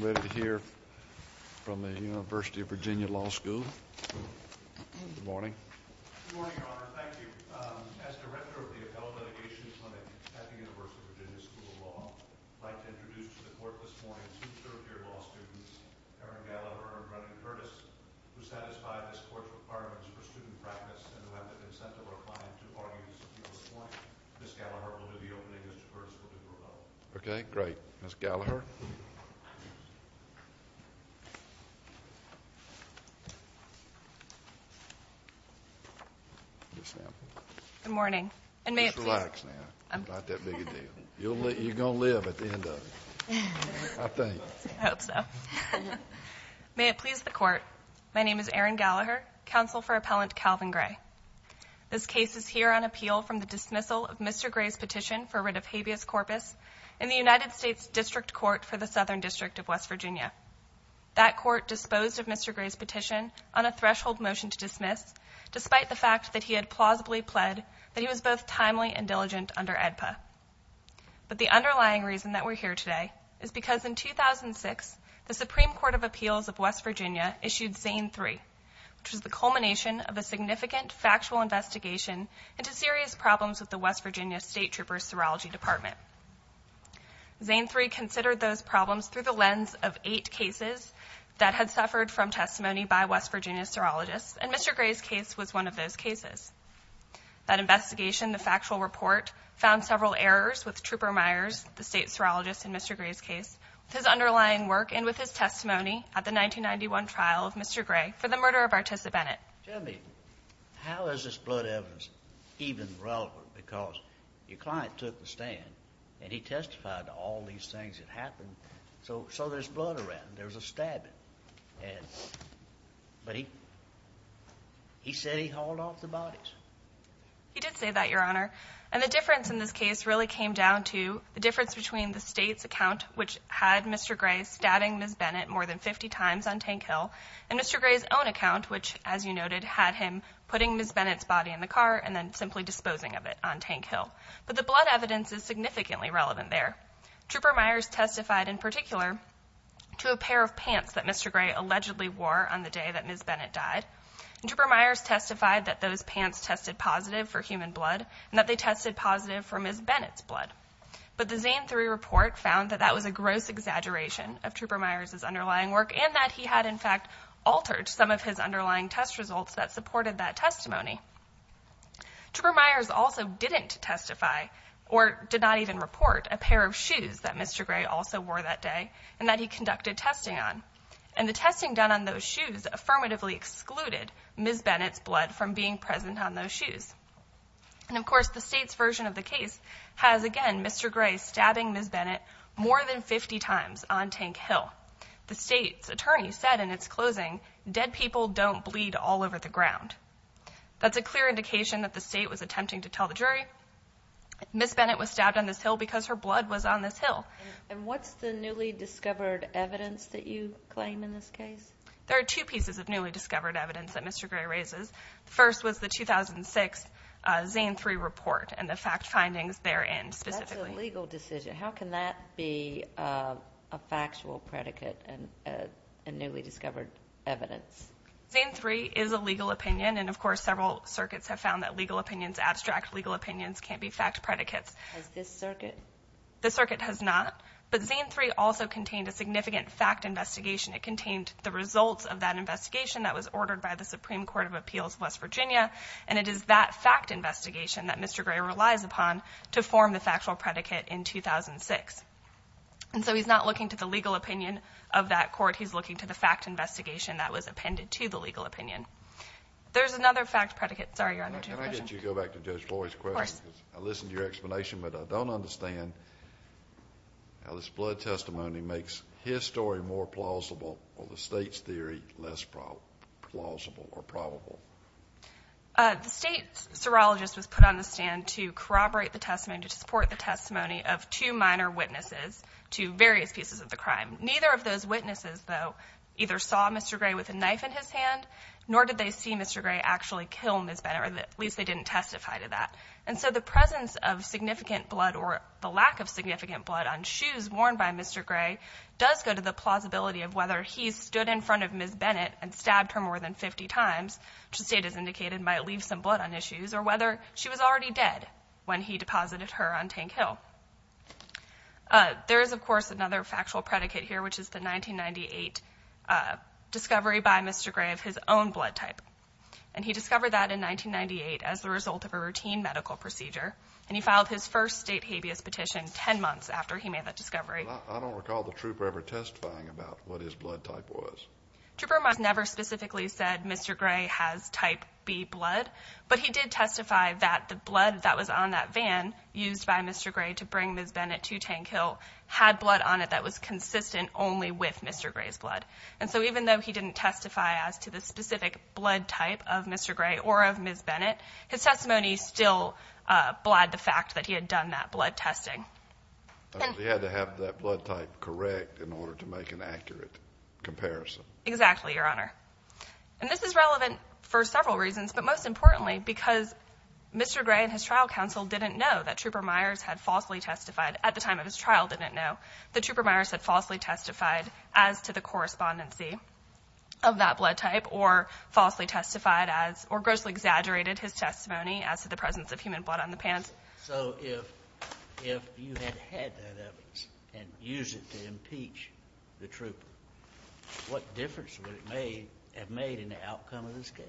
I'm delighted to hear from the University of Virginia Law School. Good morning. Good morning, Your Honor. Thank you. As Director of the Appellate Litigations Clinic at the University of Virginia School of Law, I'd like to introduce to the Court this morning two third-year law students, Erin Gallaher and Brennan Curtis, who satisfy this Court's requirements for student practice and who have the incentive or client to argue this point. Ms. Gallaher will do the opening and Mr. Curtis will do the follow-up. Okay, great. Ms. Gallaher. Good morning. Just relax now. It's not that big a deal. You're going to live at the end of it, I think. I hope so. May it please the Court, my name is Erin Gallaher, counsel for Appellant Calvin Gray. This case is here on appeal from the dismissal of Mr. Gray's petition for writ of habeas corpus in the United States District Court for the Southern District of West Virginia. That court disposed of Mr. Gray's petition on a threshold motion to dismiss, despite the fact that he had plausibly pled that he was both timely and diligent under AEDPA. But the underlying reason that we're here today is because in 2006, the Supreme Court of Appeals of West Virginia issued Zane III, which was the culmination of a significant factual investigation into serious problems with the West Virginia State Trooper's serology department. Zane III considered those problems through the lens of eight cases that had suffered from testimony by West Virginia serologists, and Mr. Gray's case was one of those cases. That investigation, the factual report, found several errors with Trooper Myers, the state serologist in Mr. Gray's case, with his underlying work and with his testimony at the 1991 trial of Mr. Gray for the murder of Artisa Bennett. Tell me, how is this blood evidence even relevant? Because your client took the stand, and he testified to all these things that happened. So there's blood around. There's a stabbing. But he said he hauled off the bodies. He did say that, Your Honor. And the difference in this case really came down to the difference between the state's account, which had Mr. Gray stabbing Ms. Bennett more than 50 times on Tank Hill, and Mr. Gray's own account, which, as you noted, had him putting Ms. Bennett's body in the car and then simply disposing of it on Tank Hill. But the blood evidence is significantly relevant there. Trooper Myers testified in particular to a pair of pants that Mr. Gray allegedly wore on the day that Ms. Bennett died. And Trooper Myers testified that those pants tested positive for human blood and that they tested positive for Ms. Bennett's blood. But the Zane III report found that that was a gross exaggeration of Trooper Myers' underlying work and that he had, in fact, altered some of his underlying test results that supported that testimony. Trooper Myers also didn't testify or did not even report a pair of shoes that Mr. Gray also wore that day and that he conducted testing on. And the testing done on those shoes affirmatively excluded Ms. Bennett's blood from being present on those shoes. And, of course, the state's version of the case has, again, Mr. Gray stabbing Ms. Bennett more than 50 times on Tank Hill. The state's attorney said in its closing, dead people don't bleed all over the ground. That's a clear indication that the state was attempting to tell the jury Ms. Bennett was stabbed on this hill because her blood was on this hill. And what's the newly discovered evidence that you claim in this case? There are two pieces of newly discovered evidence that Mr. Gray raises. The first was the 2006 Zane III report and the fact findings therein specifically. That's a legal decision. How can that be a factual predicate and newly discovered evidence? Zane III is a legal opinion, and, of course, several circuits have found that legal opinions, abstract legal opinions, can't be fact predicates. Has this circuit? This circuit has not. But Zane III also contained a significant fact investigation. It contained the results of that investigation that was ordered by the Supreme Court of Appeals, West Virginia, and it is that fact investigation that Mr. Gray relies upon to form the factual predicate in 2006. And so he's not looking to the legal opinion of that court. He's looking to the fact investigation that was appended to the legal opinion. There's another fact predicate. Sorry, Your Honor, to your question. Can I get you to go back to Judge Floyd's question? Of course. I listened to your explanation, but I don't understand how this blood testimony makes his story more plausible or the State's theory less plausible or probable. The State's serologist was put on the stand to corroborate the testimony, to support the testimony of two minor witnesses to various pieces of the crime. Neither of those witnesses, though, either saw Mr. Gray with a knife in his hand, nor did they see Mr. Gray actually kill Ms. Bennett, or at least they didn't testify to that. And so the presence of significant blood or the lack of significant blood on shoes worn by Mr. Gray does go to the plausibility of whether he stood in front of Ms. Bennett and stabbed her more than 50 times, which the State has indicated might leave some blood on his shoes, or whether she was already dead when he deposited her on Tank Hill. There is, of course, another factual predicate here, which is the 1998 discovery by Mr. Gray of his own blood type. And he discovered that in 1998 as the result of a routine medical procedure, and he filed his first State habeas petition 10 months after he made that discovery. I don't recall the trooper ever testifying about what his blood type was. Trooper never specifically said Mr. Gray has type B blood, but he did testify that the blood that was on that van used by Mr. Gray to bring Ms. Bennett to Tank Hill had blood on it that was consistent only with Mr. Gray's blood. And so even though he didn't testify as to the specific blood type of Mr. Gray or of Ms. Bennett, his testimony still bled the fact that he had done that blood testing. He had to have that blood type correct in order to make an accurate comparison. Exactly, Your Honor. And this is relevant for several reasons, but most importantly, because Mr. Gray and his trial counsel didn't know that Trooper Myers had falsely testified at the time of his trial didn't know that Trooper Myers had falsely testified as to the correspondency of that blood type or falsely testified as or grossly exaggerated his testimony as to the presence of human blood on the van. So if you had had that evidence and used it to impeach the trooper, what difference would it have made in the outcome of this case?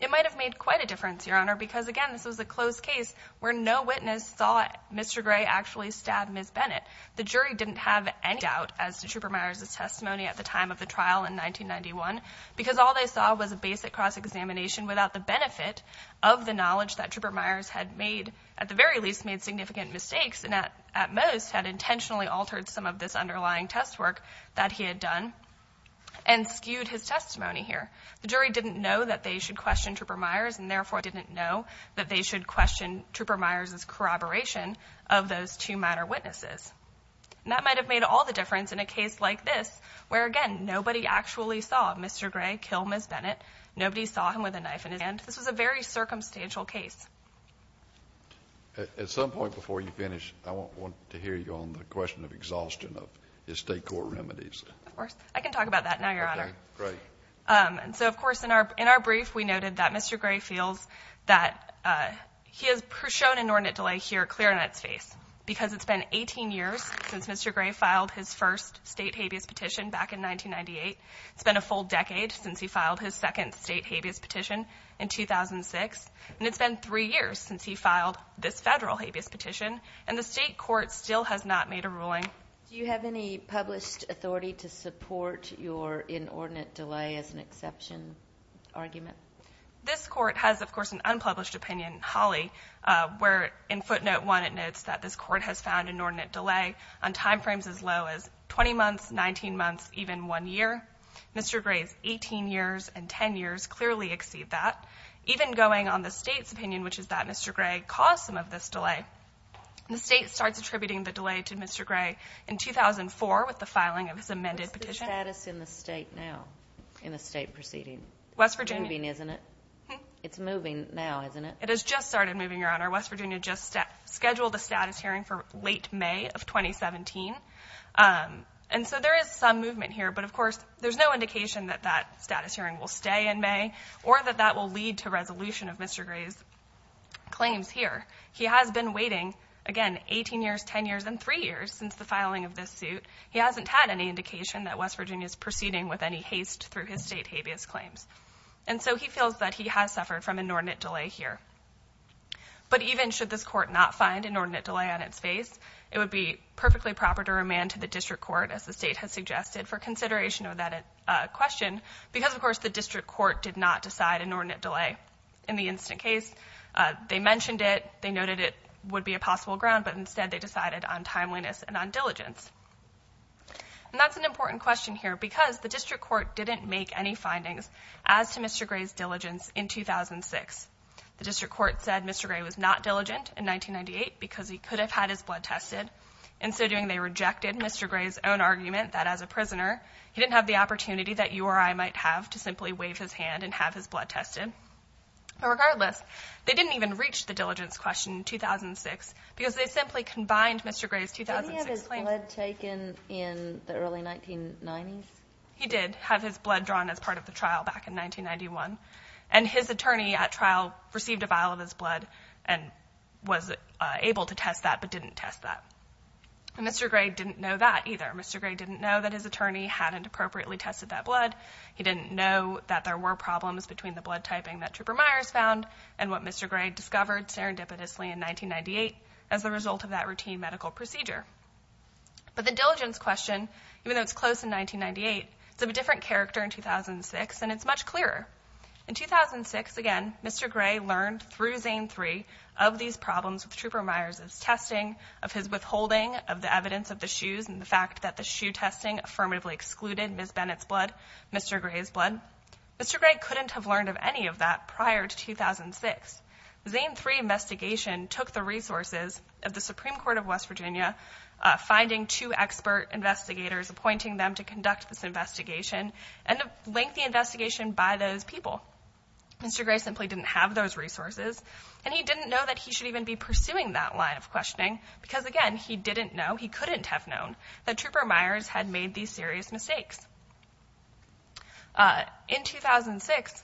It might have made quite a difference, Your Honor, because, again, this was a closed case where no witness thought Mr. Gray actually stabbed Ms. Bennett. The jury didn't have any doubt as to Trooper Myers' testimony at the time of the trial in 1991 because all they saw was a basic cross-examination without the benefit of the knowledge that Trooper Myers had made, at the very least, made significant mistakes and, at most, had intentionally altered some of this underlying test work that he had done and skewed his testimony here. The jury didn't know that they should question Trooper Myers and, therefore, didn't know that they should question Trooper Myers' corroboration of those two minor witnesses. And that might have made all the difference in a case like this where, again, nobody actually saw Mr. Gray kill Ms. Bennett. Nobody saw him with a knife in his hand. This was a very circumstantial case. At some point before you finish, I want to hear you on the question of exhaustion of estate court remedies. Of course. I can talk about that now, Your Honor. Okay. Great. And so, of course, in our brief, we noted that Mr. Gray feels that he has shown inordinate delay here clear in its face because it's been 18 years since Mr. Gray filed his first state habeas petition back in 1998. It's been a full decade since he filed his second state habeas petition in 2006, and it's been three years since he filed this federal habeas petition, and the state court still has not made a ruling. Do you have any published authority to support your inordinate delay as an exception argument? This court has, of course, an unpublished opinion, Holly, where in footnote one, it notes that this court has found inordinate delay on time frames as low as 20 months, 19 months, even one year. Mr. Gray's 18 years and 10 years clearly exceed that. Even going on the state's opinion, which is that Mr. Gray caused some of this delay, the state starts attributing the delay to Mr. Gray in 2004 with the filing of his amended petition. What's the status in the state now, in the state proceeding? West Virginia. It's moving, isn't it? It's moving now, isn't it? It has just started moving, Your Honor. West Virginia just scheduled a status hearing for late May of 2017, and so there is some movement here, but, of course, there's no indication that that status hearing will stay in May or that that will lead to resolution of Mr. Gray's claims here. He has been waiting, again, 18 years, 10 years, and three years since the filing of this suit. He hasn't had any indication that West Virginia is proceeding with any haste through his state habeas claims, and so he feels that he has suffered from inordinate delay here. But even should this court not find inordinate delay on its face, it would be perfectly proper to remand to the district court, as the state has suggested, for consideration of that question because, of course, the district court did not decide inordinate delay. In the instant case, they mentioned it, they noted it would be a possible ground, but instead they decided on timeliness and on diligence. And that's an important question here because the district court didn't make any findings as to Mr. Gray's diligence in 2006. The district court said Mr. Gray was not diligent in 1998 because he could have had his blood tested. In so doing, they rejected Mr. Gray's own argument that, as a prisoner, he didn't have the opportunity that you or I might have to simply wave his hand and have his blood tested. But regardless, they didn't even reach the diligence question in 2006 because they simply combined Mr. Gray's 2006 claims. Did he have his blood taken in the early 1990s? He did have his blood drawn as part of the trial back in 1991, and his attorney at trial received a vial of his blood and was able to test that but didn't test that. And Mr. Gray didn't know that either. Mr. Gray didn't know that his attorney hadn't appropriately tested that blood. He didn't know that there were problems between the blood typing that Trooper Myers found and what Mr. Gray discovered serendipitously in 1998 as a result of that routine medical procedure. But the diligence question, even though it's close in 1998, is of a different character in 2006, and it's much clearer. In 2006, again, Mr. Gray learned through Zane III of these problems with Trooper Myers' testing, of his withholding of the evidence of the shoes and the fact that the shoe testing affirmatively excluded Ms. Bennett's blood, Mr. Gray's blood. Mr. Gray couldn't have learned of any of that prior to 2006. The Zane III investigation took the resources of the Supreme Court of West Virginia, finding two expert investigators, appointing them to conduct this investigation, and a lengthy investigation by those people. Mr. Gray simply didn't have those resources, and he didn't know that he should even be pursuing that line of questioning because, again, he didn't know, he couldn't have known, that Trooper Myers had made these serious mistakes. In 2006,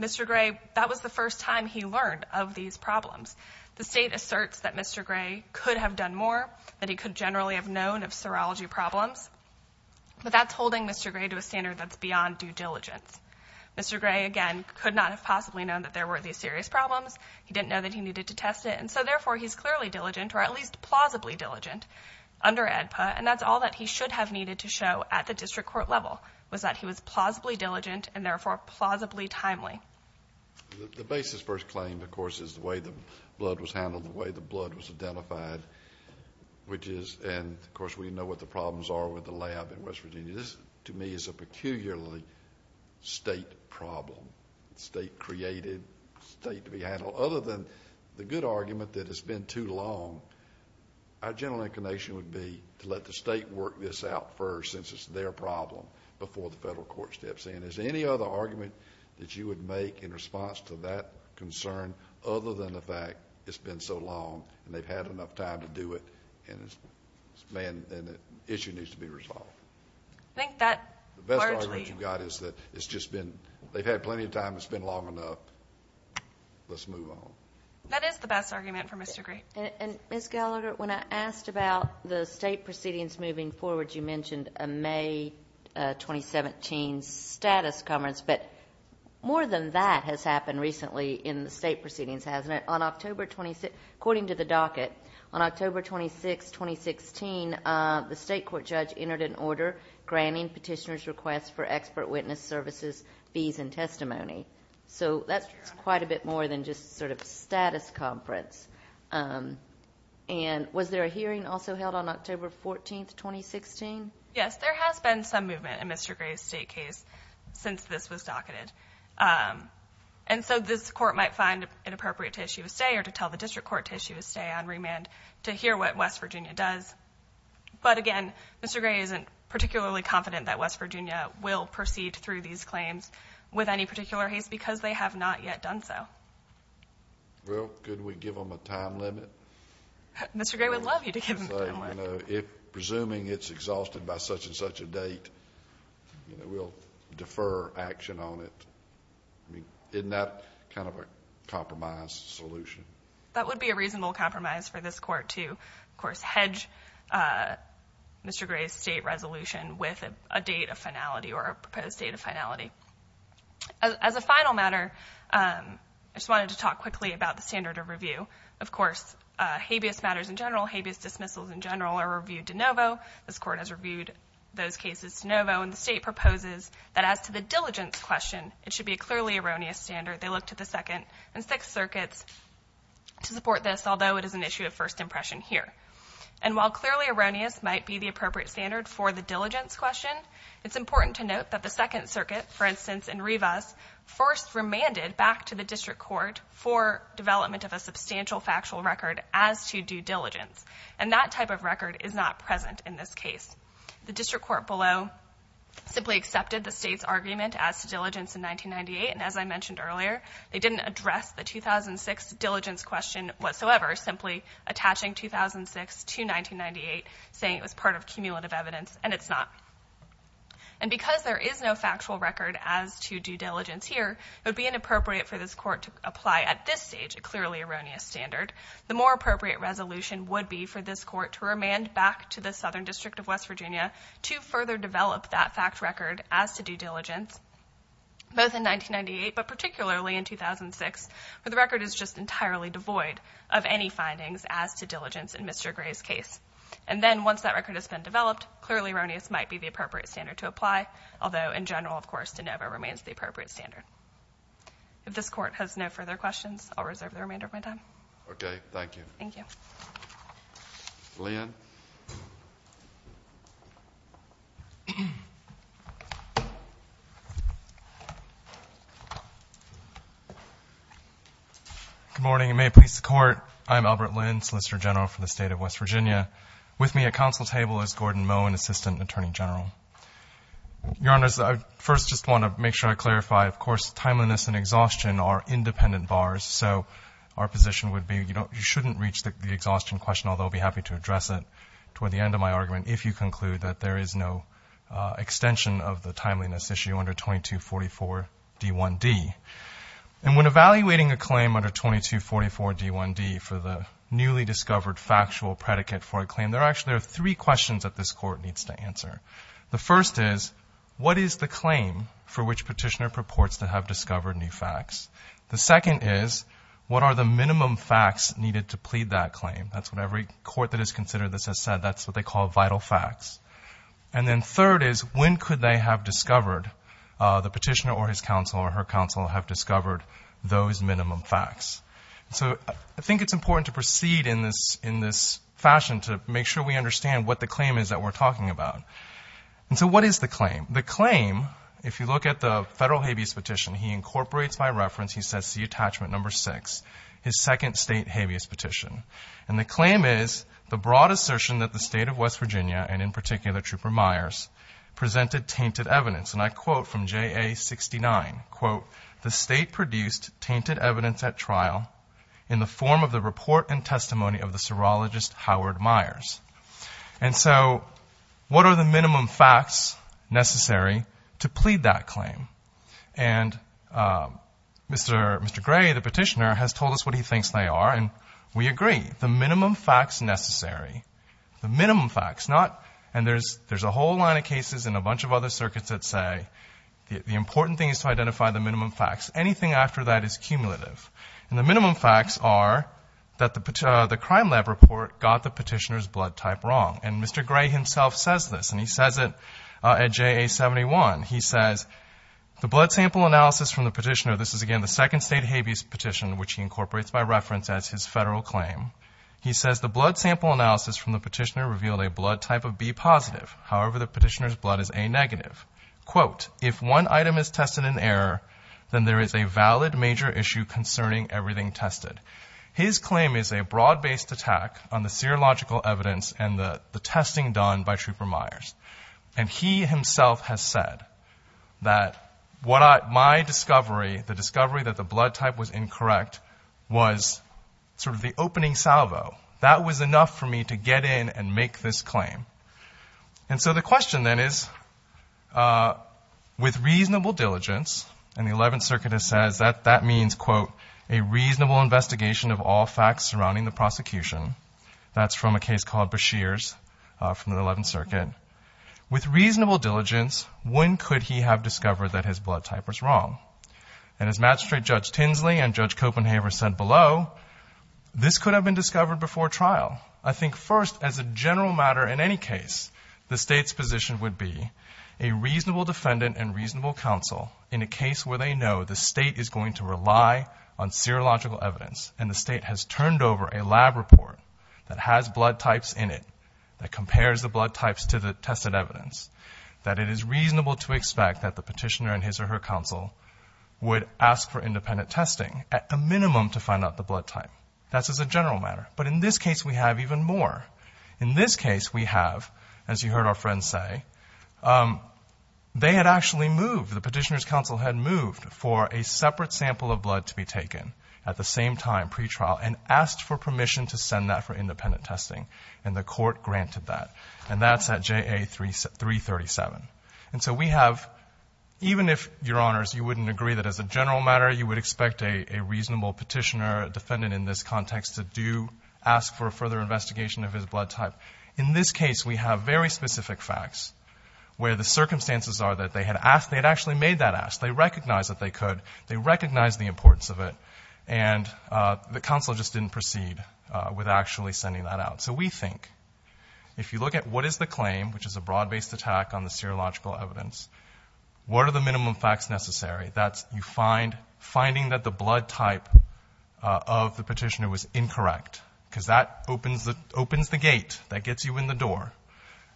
Mr. Gray, that was the first time he learned of these problems. The state asserts that Mr. Gray could have done more, that he could generally have known of serology problems, but that's holding Mr. Gray to a standard that's beyond due diligence. Mr. Gray, again, could not have possibly known that there were these serious problems. He didn't know that he needed to test it, and so, therefore, he's clearly diligent, or at least plausibly diligent, under AEDPA, and that's all that he should have needed to show at the district court level, was that he was plausibly diligent and, therefore, plausibly timely. The basis for his claim, of course, is the way the blood was handled, the way the blood was identified, which is, and, of course, we know what the problems are with the lab in West Virginia. This, to me, is a peculiarly state problem, state-created, state-to-be-handled. Other than the good argument that it's been too long, our general inclination would be to let the state work this out first, since it's their problem, before the federal court steps in. Is there any other argument that you would make in response to that concern, other than the fact it's been so long, and they've had enough time to do it, and the issue needs to be resolved? I think that largely... The best argument you've got is that it's just been, they've had plenty of time, it's been long enough, let's move on. That is the best argument for Mr. Gray. And, Ms. Gallagher, when I asked about the state proceedings moving forward, you mentioned a May 2017 status conference, but more than that has happened recently in the state proceedings, hasn't it? According to the docket, on October 26, 2016, the state court judge entered an order granting petitioners' requests for expert witness services, fees, and testimony. So that's quite a bit more than just sort of a status conference. And was there a hearing also held on October 14, 2016? Yes, there has been some movement in Mr. Gray's state case since this was docketed. And so this court might find it appropriate to issue a stay or to tell the district court to issue a stay on remand to hear what West Virginia does. But again, Mr. Gray isn't particularly confident that West Virginia will proceed through these claims with any particular haste because they have not yet done so. Well, could we give them a time limit? Mr. Gray would love you to give them a time limit. If presuming it's exhausted by such and such a date, we'll defer action on it. Isn't that kind of a compromise solution? That would be a reasonable compromise for this court to, of course, hedge Mr. Gray's state resolution with a date of finality or a proposed date of finality. As a final matter, I just wanted to talk quickly about the standard of review. Of course, habeas matters in general, habeas dismissals in general are reviewed de novo. This court has reviewed those cases de novo. And the state proposes that as to the diligence question, it should be a clearly erroneous standard. They looked at the Second and Sixth Circuits to support this, although it is an issue of first impression here. And while clearly erroneous might be the appropriate standard for the diligence question, it's important to note that the Second Circuit, for instance, in Rivas, first remanded back to the district court for development of a substantial factual record as to due diligence. And that type of record is not present in this case. The district court below simply accepted the state's argument as to diligence in 1998. And as I mentioned earlier, they didn't address the 2006 diligence question whatsoever, simply attaching 2006 to 1998, saying it was part of cumulative evidence. And it's not. And because there is no factual record as to due diligence here, it would be inappropriate for this court to apply at this stage a clearly erroneous standard. The more appropriate resolution would be for this court to remand back to the Southern District of West Virginia to further develop that fact record as to due diligence, both in 1998 but particularly in 2006, where the record is just entirely devoid of any findings as to diligence in Mr. Gray's case. And then once that record has been developed, clearly erroneous might be the appropriate standard to apply, although in general, of course, de novo remains the appropriate standard. If this court has no further questions, I'll reserve the remainder of my time. Okay. Thank you. Thank you. Good morning, and may it please the Court. I'm Albert Lin, Solicitor General for the State of West Virginia. With me at council table is Gordon Moe, an Assistant Attorney General. Your Honors, I first just want to make sure I clarify, of course, timeliness and exhaustion are independent bars. So our position would be you shouldn't reach the exhaustion question, although I'll be happy to address it toward the end of my argument, if you conclude that there is no extension of the timeliness issue under 2244d1d. And when evaluating a claim under 2244d1d for the newly discovered factual predicate for a claim, there are actually three questions that this court needs to answer. The first is, what is the claim for which Petitioner purports to have discovered new facts? The second is, what are the minimum facts needed to plead that claim? That's what every court that has considered this has said. That's what they call vital facts. And then third is, when could they have discovered, the petitioner or his counsel or her counsel, have discovered those minimum facts? So I think it's important to proceed in this fashion to make sure we understand what the claim is that we're talking about. And so what is the claim? The claim, if you look at the federal habeas petition, he incorporates by reference, he sets the attachment number six, his second state habeas petition. And the claim is the broad assertion that the state of West Virginia, and in particular Trooper Myers, presented tainted evidence. And I quote from JA69, quote, the state produced tainted evidence at trial in the form of the report and testimony of the serologist Howard Myers. And so what are the minimum facts necessary to plead that claim? And Mr. Gray, the petitioner, has told us what he thinks they are. And we agree, the minimum facts necessary. The minimum facts, not, and there's a whole line of cases in a bunch of other circuits that say, the important thing is to identify the minimum facts. Anything after that is cumulative. And the minimum facts are that the crime lab report got the petitioner's blood type wrong. And Mr. Gray himself says this, and he says it at JA71. He says, the blood sample analysis from the petitioner, this is, again, the second state habeas petition, which he incorporates by reference as his federal claim. He says, the blood sample analysis from the petitioner revealed a blood type of B positive. However, the petitioner's blood is A negative. Quote, if one item is tested in error, then there is a valid major issue concerning everything tested. His claim is a broad-based attack on the serological evidence and the testing done by Trooper Myers. And he himself has said that my discovery, the discovery that the blood type was incorrect, was sort of the opening salvo. That was enough for me to get in and make this claim. And so the question then is, with reasonable diligence, and the 11th Circuit has said that that means, quote, a reasonable investigation of all facts surrounding the prosecution. That's from a case called Beshears from the 11th Circuit. With reasonable diligence, when could he have discovered that his blood type was wrong? And as Magistrate Judge Tinsley and Judge Copenhaver said below, this could have been discovered before trial. I think first, as a general matter in any case, the state's position would be, a reasonable defendant and reasonable counsel, in a case where they know the state is going to rely on serological evidence, and the state has turned over a lab report that has blood types in it, that compares the blood types to the tested evidence, that it is reasonable to expect that the petitioner and his or her counsel would ask for independent testing, at a minimum, to find out the blood type. That's as a general matter. But in this case, we have even more. In this case, we have, as you heard our friend say, they had actually moved. The petitioner's counsel had moved for a separate sample of blood to be taken at the same time, pre-trial, and asked for permission to send that for independent testing. And the court granted that. And that's at JA-337. And so we have, even if, Your Honors, you wouldn't agree that as a general matter, you would expect a reasonable petitioner, a defendant in this context, to do, ask for a further investigation of his blood type. In this case, we have very specific facts, where the circumstances are that they had asked, they had actually made that ask. They recognized that they could. They recognized the importance of it. And the counsel just didn't proceed with actually sending that out. So we think, if you look at what is the claim, which is a broad-based attack on the serological evidence, what are the minimum facts necessary? That's you find, finding that the blood type of the petitioner was incorrect, because that opens the gate. That gets you in the door.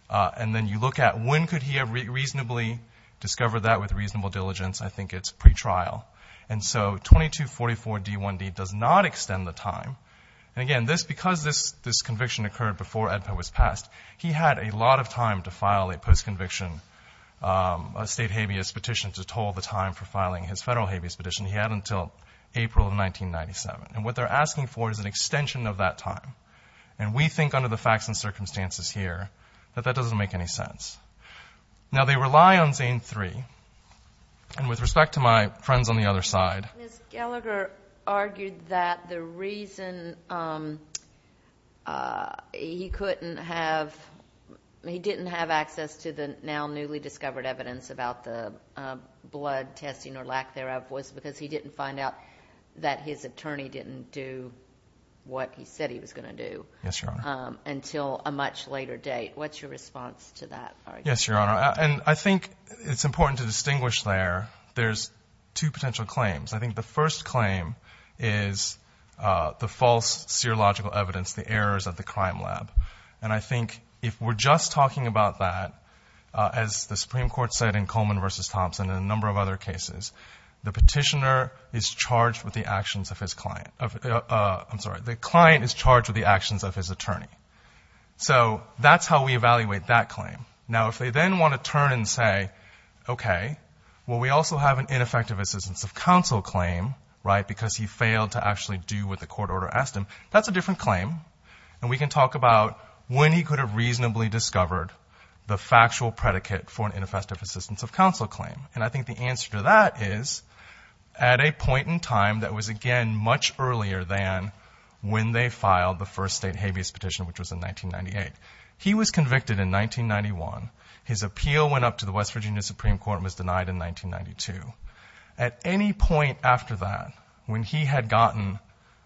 And then you look at when could he have reasonably discovered that with reasonable diligence. I think it's pre-trial. And so 2244d1d does not extend the time. And, again, because this conviction occurred before EDPO was passed, he had a lot of time to file a post-conviction state habeas petition to toll the time for filing his federal habeas petition. He had until April of 1997. And what they're asking for is an extension of that time. And we think, under the facts and circumstances here, that that doesn't make any sense. Now, they rely on Zane III. And with respect to my friends on the other side. Ms. Gallagher argued that the reason he couldn't have, he didn't have access to the now newly discovered evidence about the blood testing or lack thereof was because he didn't find out that his attorney didn't do what he said he was going to do. Yes, Your Honor. Until a much later date. What's your response to that argument? Yes, Your Honor. And I think it's important to distinguish there, there's two potential claims. I think the first claim is the false serological evidence, the errors of the crime lab. And I think if we're just talking about that, as the Supreme Court said in Coleman v. Thompson and a number of other cases, the petitioner is charged with the actions of his client. I'm sorry. The client is charged with the actions of his attorney. So that's how we evaluate that claim. Now, if they then want to turn and say, okay, well, we also have an ineffective assistance of counsel claim, right, because he failed to actually do what the court order asked him, that's a different claim. And we can talk about when he could have reasonably discovered the factual predicate for an ineffective assistance of counsel claim. And I think the answer to that is at a point in time that was, again, much earlier than when they filed the first state habeas petition, which was in 1998. He was convicted in 1991. His appeal went up to the West Virginia Supreme Court and was denied in 1992. At any point after that, when he had gotten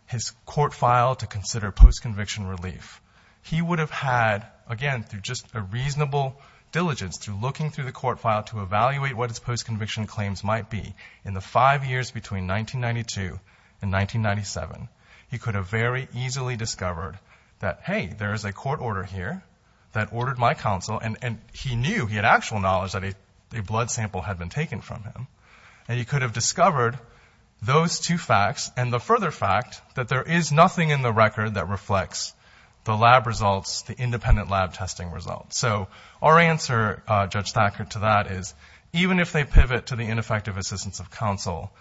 his court file to consider post-conviction relief, he would have had, again, through just a reasonable diligence through looking through the court file to evaluate what his post-conviction claims might be in the five years between 1992 and 1997. He could have very easily discovered that, hey, there is a court order here that ordered my counsel. And he knew, he had actual knowledge that a blood sample had been taken from him. And he could have discovered those two facts and the further fact that there is nothing in the record that reflects the lab results, the independent lab testing results. So our answer, Judge Thacker, to that is even if they pivot to the ineffective assistance of counsel,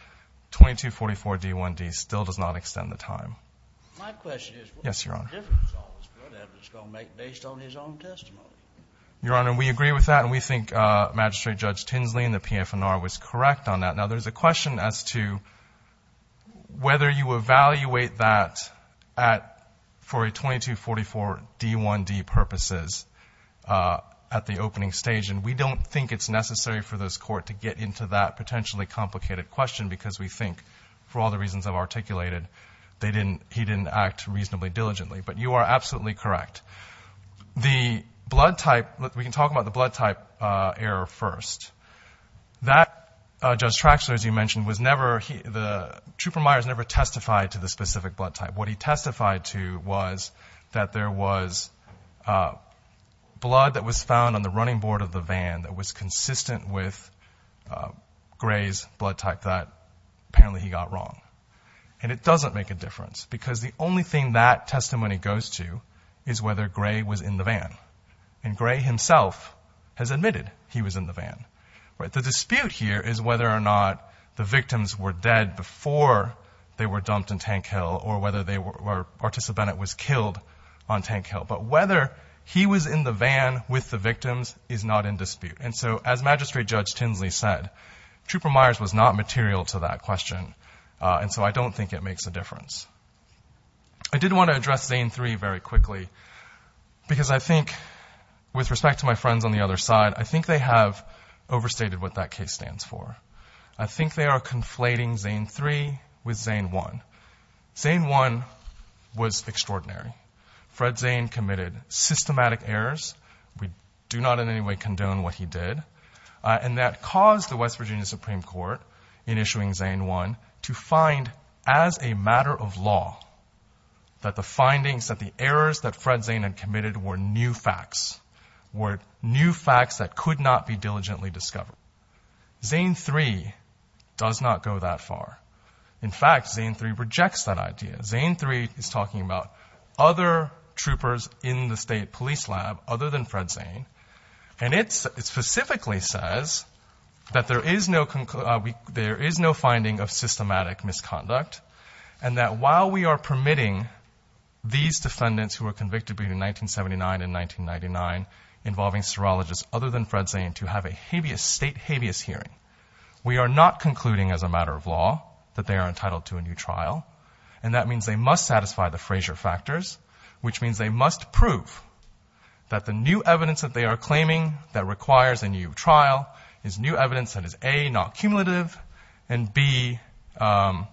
2244D1D still does not extend the time. My question is what difference all this good evidence is going to make based on his own testimony? Your Honor, we agree with that and we think Magistrate Judge Tinsley and the PFNR was correct on that. Now, there is a question as to whether you evaluate that for a 2244D1D purposes at the opening stage. And we don't think it's necessary for this Court to get into that potentially complicated question because we think for all the reasons I've articulated, they didn't, he didn't act reasonably diligently. But you are absolutely correct. The blood type, we can talk about the blood type error first. That, Judge Traxler, as you mentioned, was never, the trooper Myers never testified to the specific blood type. What he testified to was that there was blood that was found on the running board of the van that was consistent with Gray's blood type. And he testified to the fact that apparently he got wrong. And it doesn't make a difference because the only thing that testimony goes to is whether Gray was in the van. And Gray himself has admitted he was in the van. The dispute here is whether or not the victims were dead before they were dumped in Tank Hill or whether they were, or Artisa Bennett was killed on Tank Hill. But whether he was in the van with the victims is not in dispute. And so as Magistrate Judge Tinsley said, Trooper Myers was not material to that question. And so I don't think it makes a difference. I did want to address Zane 3 very quickly because I think, with respect to my friends on the other side, I think they have overstated what that case stands for. I think they are conflating Zane 3 with Zane 1. Zane 1 was extraordinary. Fred Zane committed systematic errors. We do not in any way condone what he did. And that caused the West Virginia Supreme Court, in issuing Zane 1, to find, as a matter of law, that the findings, that the errors that Fred Zane had committed were new facts, were new facts that could not be diligently discovered. Zane 3 does not go that far. In fact, Zane 3 rejects that idea. Zane 3 is talking about other troopers in the state police lab other than Fred Zane. And it specifically says that there is no finding of systematic misconduct, and that while we are permitting these defendants who were convicted between 1979 and 1999, involving serologists other than Fred Zane, to have a state habeas hearing, we are not concluding, as a matter of law, that they are entitled to a new trial. And that means they must satisfy the Frazier factors, which means they must prove that the new evidence that they are claiming that requires a new trial is new evidence that is, A, not cumulative, and, B, that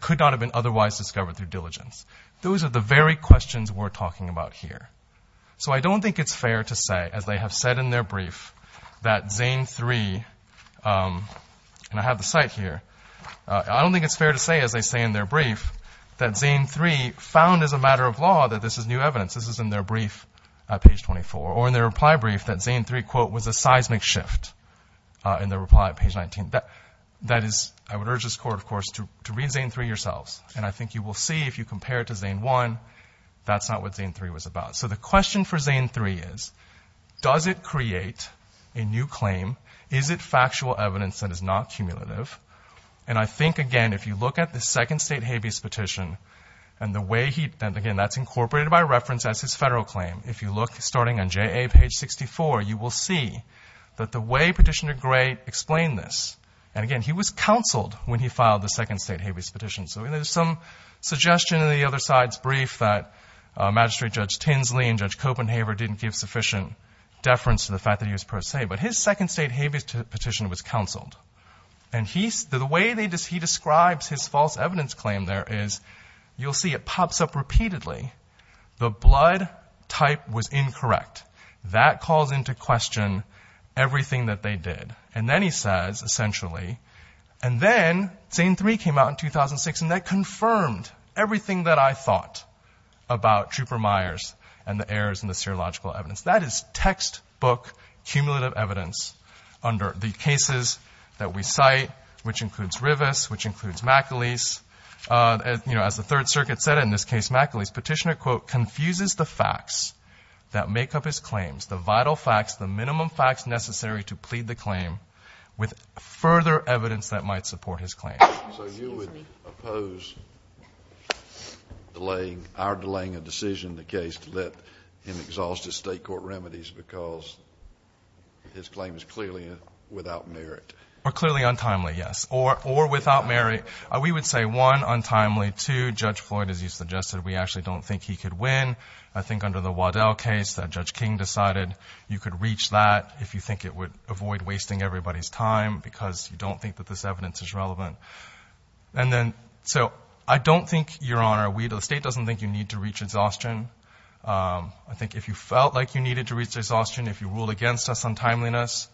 could not have been otherwise discovered through diligence. Those are the very questions we're talking about here. So I don't think it's fair to say, as they have said in their brief, that Zane 3, and I have the cite here, I don't think it's fair to say, as they say in their brief, that Zane 3 found, as a matter of law, that this is new evidence. This is in their brief at page 24. Or in their reply brief, that Zane 3, quote, was a seismic shift in their reply at page 19. That is, I would urge this Court, of course, to read Zane 3 yourselves, and I think you will see if you compare it to Zane 1, that's not what Zane 3 was about. So the question for Zane 3 is, does it create a new claim? Is it factual evidence that is not cumulative? And I think, again, if you look at the Second State Habeas Petition, and, again, that's incorporated by reference as his federal claim. If you look, starting on JA page 64, you will see that the way Petitioner Gray explained this, and, again, he was counseled when he filed the Second State Habeas Petition. So there's some suggestion in the other side's brief that Magistrate Judge Tinsley and Judge Copenhaver didn't give sufficient deference to the fact that he was pro se, but his Second State Habeas Petition was counseled. And the way he describes his false evidence claim there is, you'll see it pops up repeatedly. The blood type was incorrect. That calls into question everything that they did. And then he says, essentially, and then Zane 3 came out in 2006, and that confirmed everything that I thought about Trooper Myers and the errors in the serological evidence. That is textbook cumulative evidence under the cases that we cite, which includes Rivas, which includes McAleese. As the Third Circuit said in this case, McAleese, Petitioner, quote, that make up his claims, the vital facts, the minimum facts necessary to plead the claim, with further evidence that might support his claim. So you would oppose delaying, our delaying a decision in the case to let him exhaust his state court remedies because his claim is clearly without merit? Or clearly untimely, yes, or without merit. We would say, one, untimely. Two, Judge Floyd, as you suggested, we actually don't think he could win. I think under the Waddell case that Judge King decided you could reach that if you think it would avoid wasting everybody's time because you don't think that this evidence is relevant. And then, so, I don't think, Your Honor, we at the state don't think you need to reach exhaustion. I think if you felt like you needed to reach exhaustion, if you ruled against us on timeliness,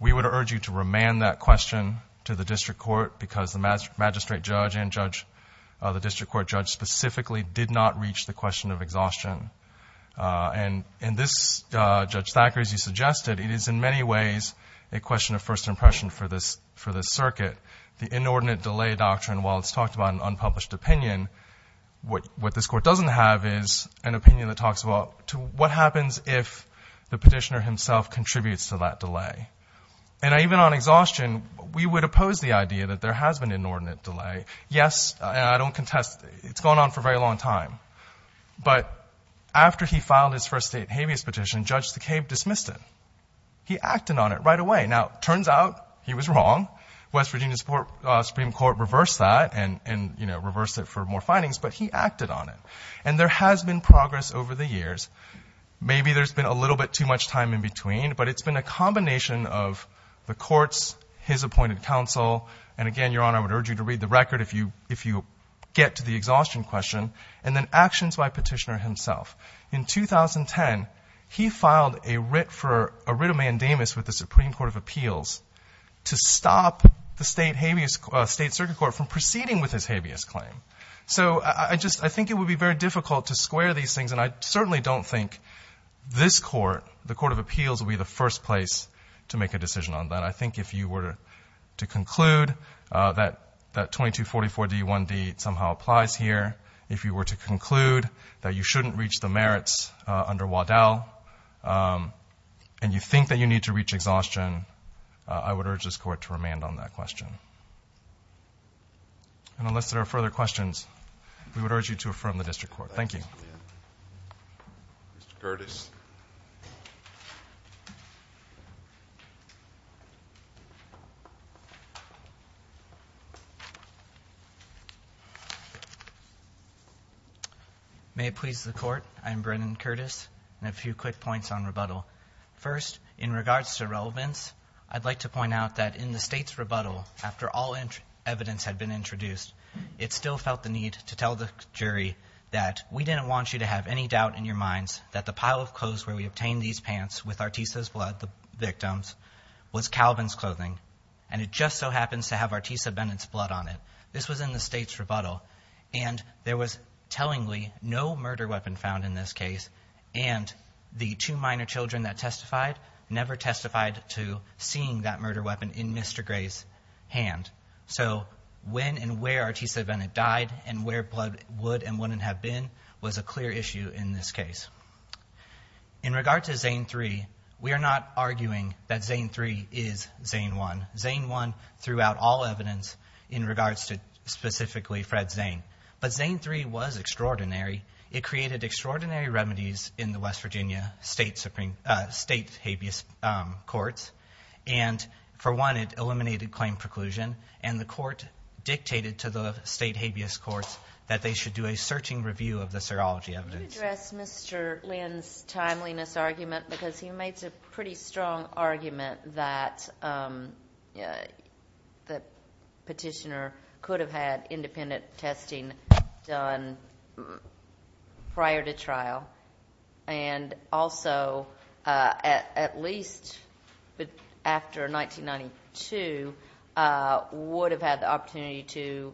we would urge you to remand that question to the district court because the magistrate judge and the district court judge specifically did not reach the question of exhaustion. And this, Judge Thacker, as you suggested, it is in many ways a question of first impression for this circuit. The inordinate delay doctrine, while it's talked about in unpublished opinion, what this court doesn't have is an opinion that talks about what happens if the petitioner himself contributes to that delay. And even on exhaustion, we would oppose the idea that there has been an inordinate delay. Yes, I don't contest it. It's gone on for a very long time. But after he filed his first state habeas petition, Judge Thacker dismissed it. He acted on it right away. Now, it turns out he was wrong. West Virginia Supreme Court reversed that and, you know, reversed it for more findings, but he acted on it. And there has been progress over the years. Maybe there's been a little bit too much time in between, but it's been a combination of the courts, his appointed counsel, and again, Your Honor, I would urge you to read the record if you get to the exhaustion question, and then actions by petitioner himself. In 2010, he filed a writ for a writ of mandamus with the Supreme Court of Appeals to stop the state circuit court from proceeding with his habeas claim. So I just think it would be very difficult to square these things, and I certainly don't think this Court, the Court of Appeals, would be the first place to make a decision on that. I think if you were to conclude that 2244d1d somehow applies here, if you were to conclude that you shouldn't reach the merits under Waddell, and you think that you need to reach exhaustion, I would urge this Court to remand on that question. And unless there are further questions, we would urge you to affirm the district court. Thank you. Mr. Curtis. May it please the Court, I am Brennan Curtis, and I have a few quick points on rebuttal. First, in regards to relevance, I'd like to point out that in the state's rebuttal, after all evidence had been introduced, it still felt the need to tell the jury that we didn't want you to have any doubt in your minds that the pile of clothes where we obtained these pants with Artisa's blood, the victims, was Calvin's clothing, and it just so happens to have Artisa Bennett's blood on it. This was in the state's rebuttal, and there was tellingly no murder weapon found in this case, and the two minor children that testified never testified to seeing that murder weapon in Mr. Gray's hand. So when and where Artisa Bennett died and where blood would and wouldn't have been was a clear issue in this case. In regards to Zane 3, we are not arguing that Zane 3 is Zane 1. Zane 1 threw out all evidence in regards to specifically Fred Zane, but Zane 3 was extraordinary. It created extraordinary remedies in the West Virginia state habeas courts, and for one, it eliminated claim preclusion, and the court dictated to the state habeas courts that they should do a searching review of the serology evidence. I would like to address Mr. Lynn's timeliness argument because he makes a pretty strong argument that the petitioner could have had independent testing done prior to trial and also at least after 1992 would have had the opportunity to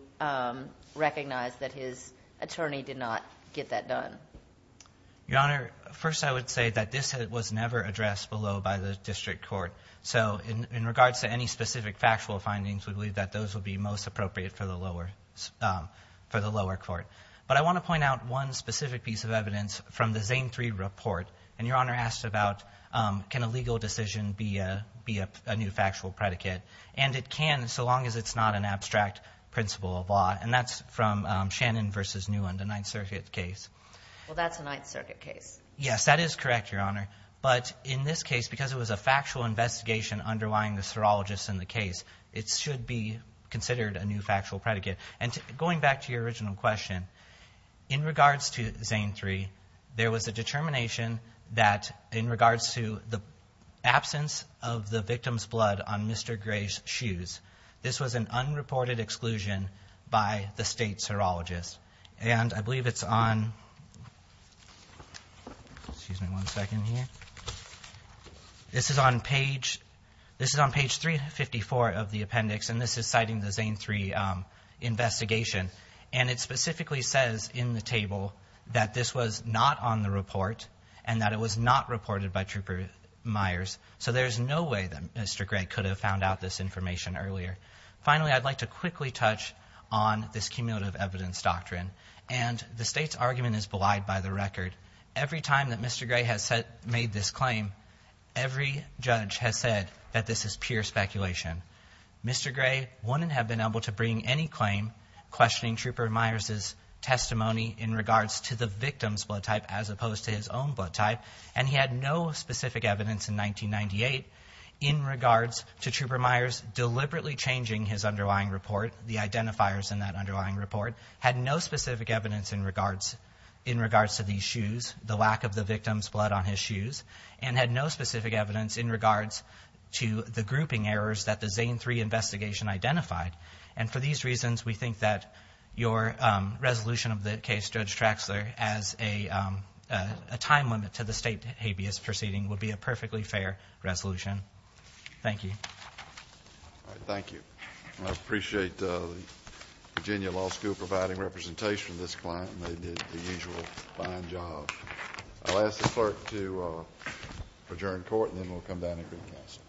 recognize that his attorney did not get that done. Your Honor, first I would say that this was never addressed below by the district court. So in regards to any specific factual findings, we believe that those would be most appropriate for the lower court. But I want to point out one specific piece of evidence from the Zane 3 report, and Your Honor asked about can a legal decision be a new factual predicate, and it can so long as it's not an abstract principle of law, and that's from Shannon v. Newland, a Ninth Circuit case. Well, that's a Ninth Circuit case. Yes, that is correct, Your Honor, but in this case, because it was a factual investigation underlying the serologists in the case, it should be considered a new factual predicate. And going back to your original question, in regards to Zane 3, there was a determination that in regards to the absence of the victim's blood on Mr. Gray's shoes, this was an unreported exclusion by the state serologist. And I believe it's on – excuse me one second here. This is on page – this is on page 354 of the appendix, and this is citing the Zane 3 investigation. And it specifically says in the table that this was not on the report and that it was not reported by Trooper Myers. So there's no way that Mr. Gray could have found out this information earlier. Finally, I'd like to quickly touch on this cumulative evidence doctrine. And the state's argument is belied by the record. Every time that Mr. Gray has made this claim, every judge has said that this is pure speculation. Mr. Gray wouldn't have been able to bring any claim questioning Trooper Myers' testimony in regards to the victim's blood type as opposed to his own blood type, and he had no specific evidence in 1998 in regards to Trooper Myers deliberately changing his underlying report, the identifiers in that underlying report, had no specific evidence in regards to these shoes, the lack of the victim's blood on his shoes, and had no specific evidence in regards to the grouping errors that the Zane 3 investigation identified. And for these reasons, we think that your resolution of the case, Judge Traxler, as a time limit to the state habeas proceeding would be a perfectly fair resolution. Thank you. All right, thank you. I appreciate the Virginia Law School providing representation to this client, and they did the usual fine job. I'll ask the clerk to adjourn court, and then we'll come down and greet counsel.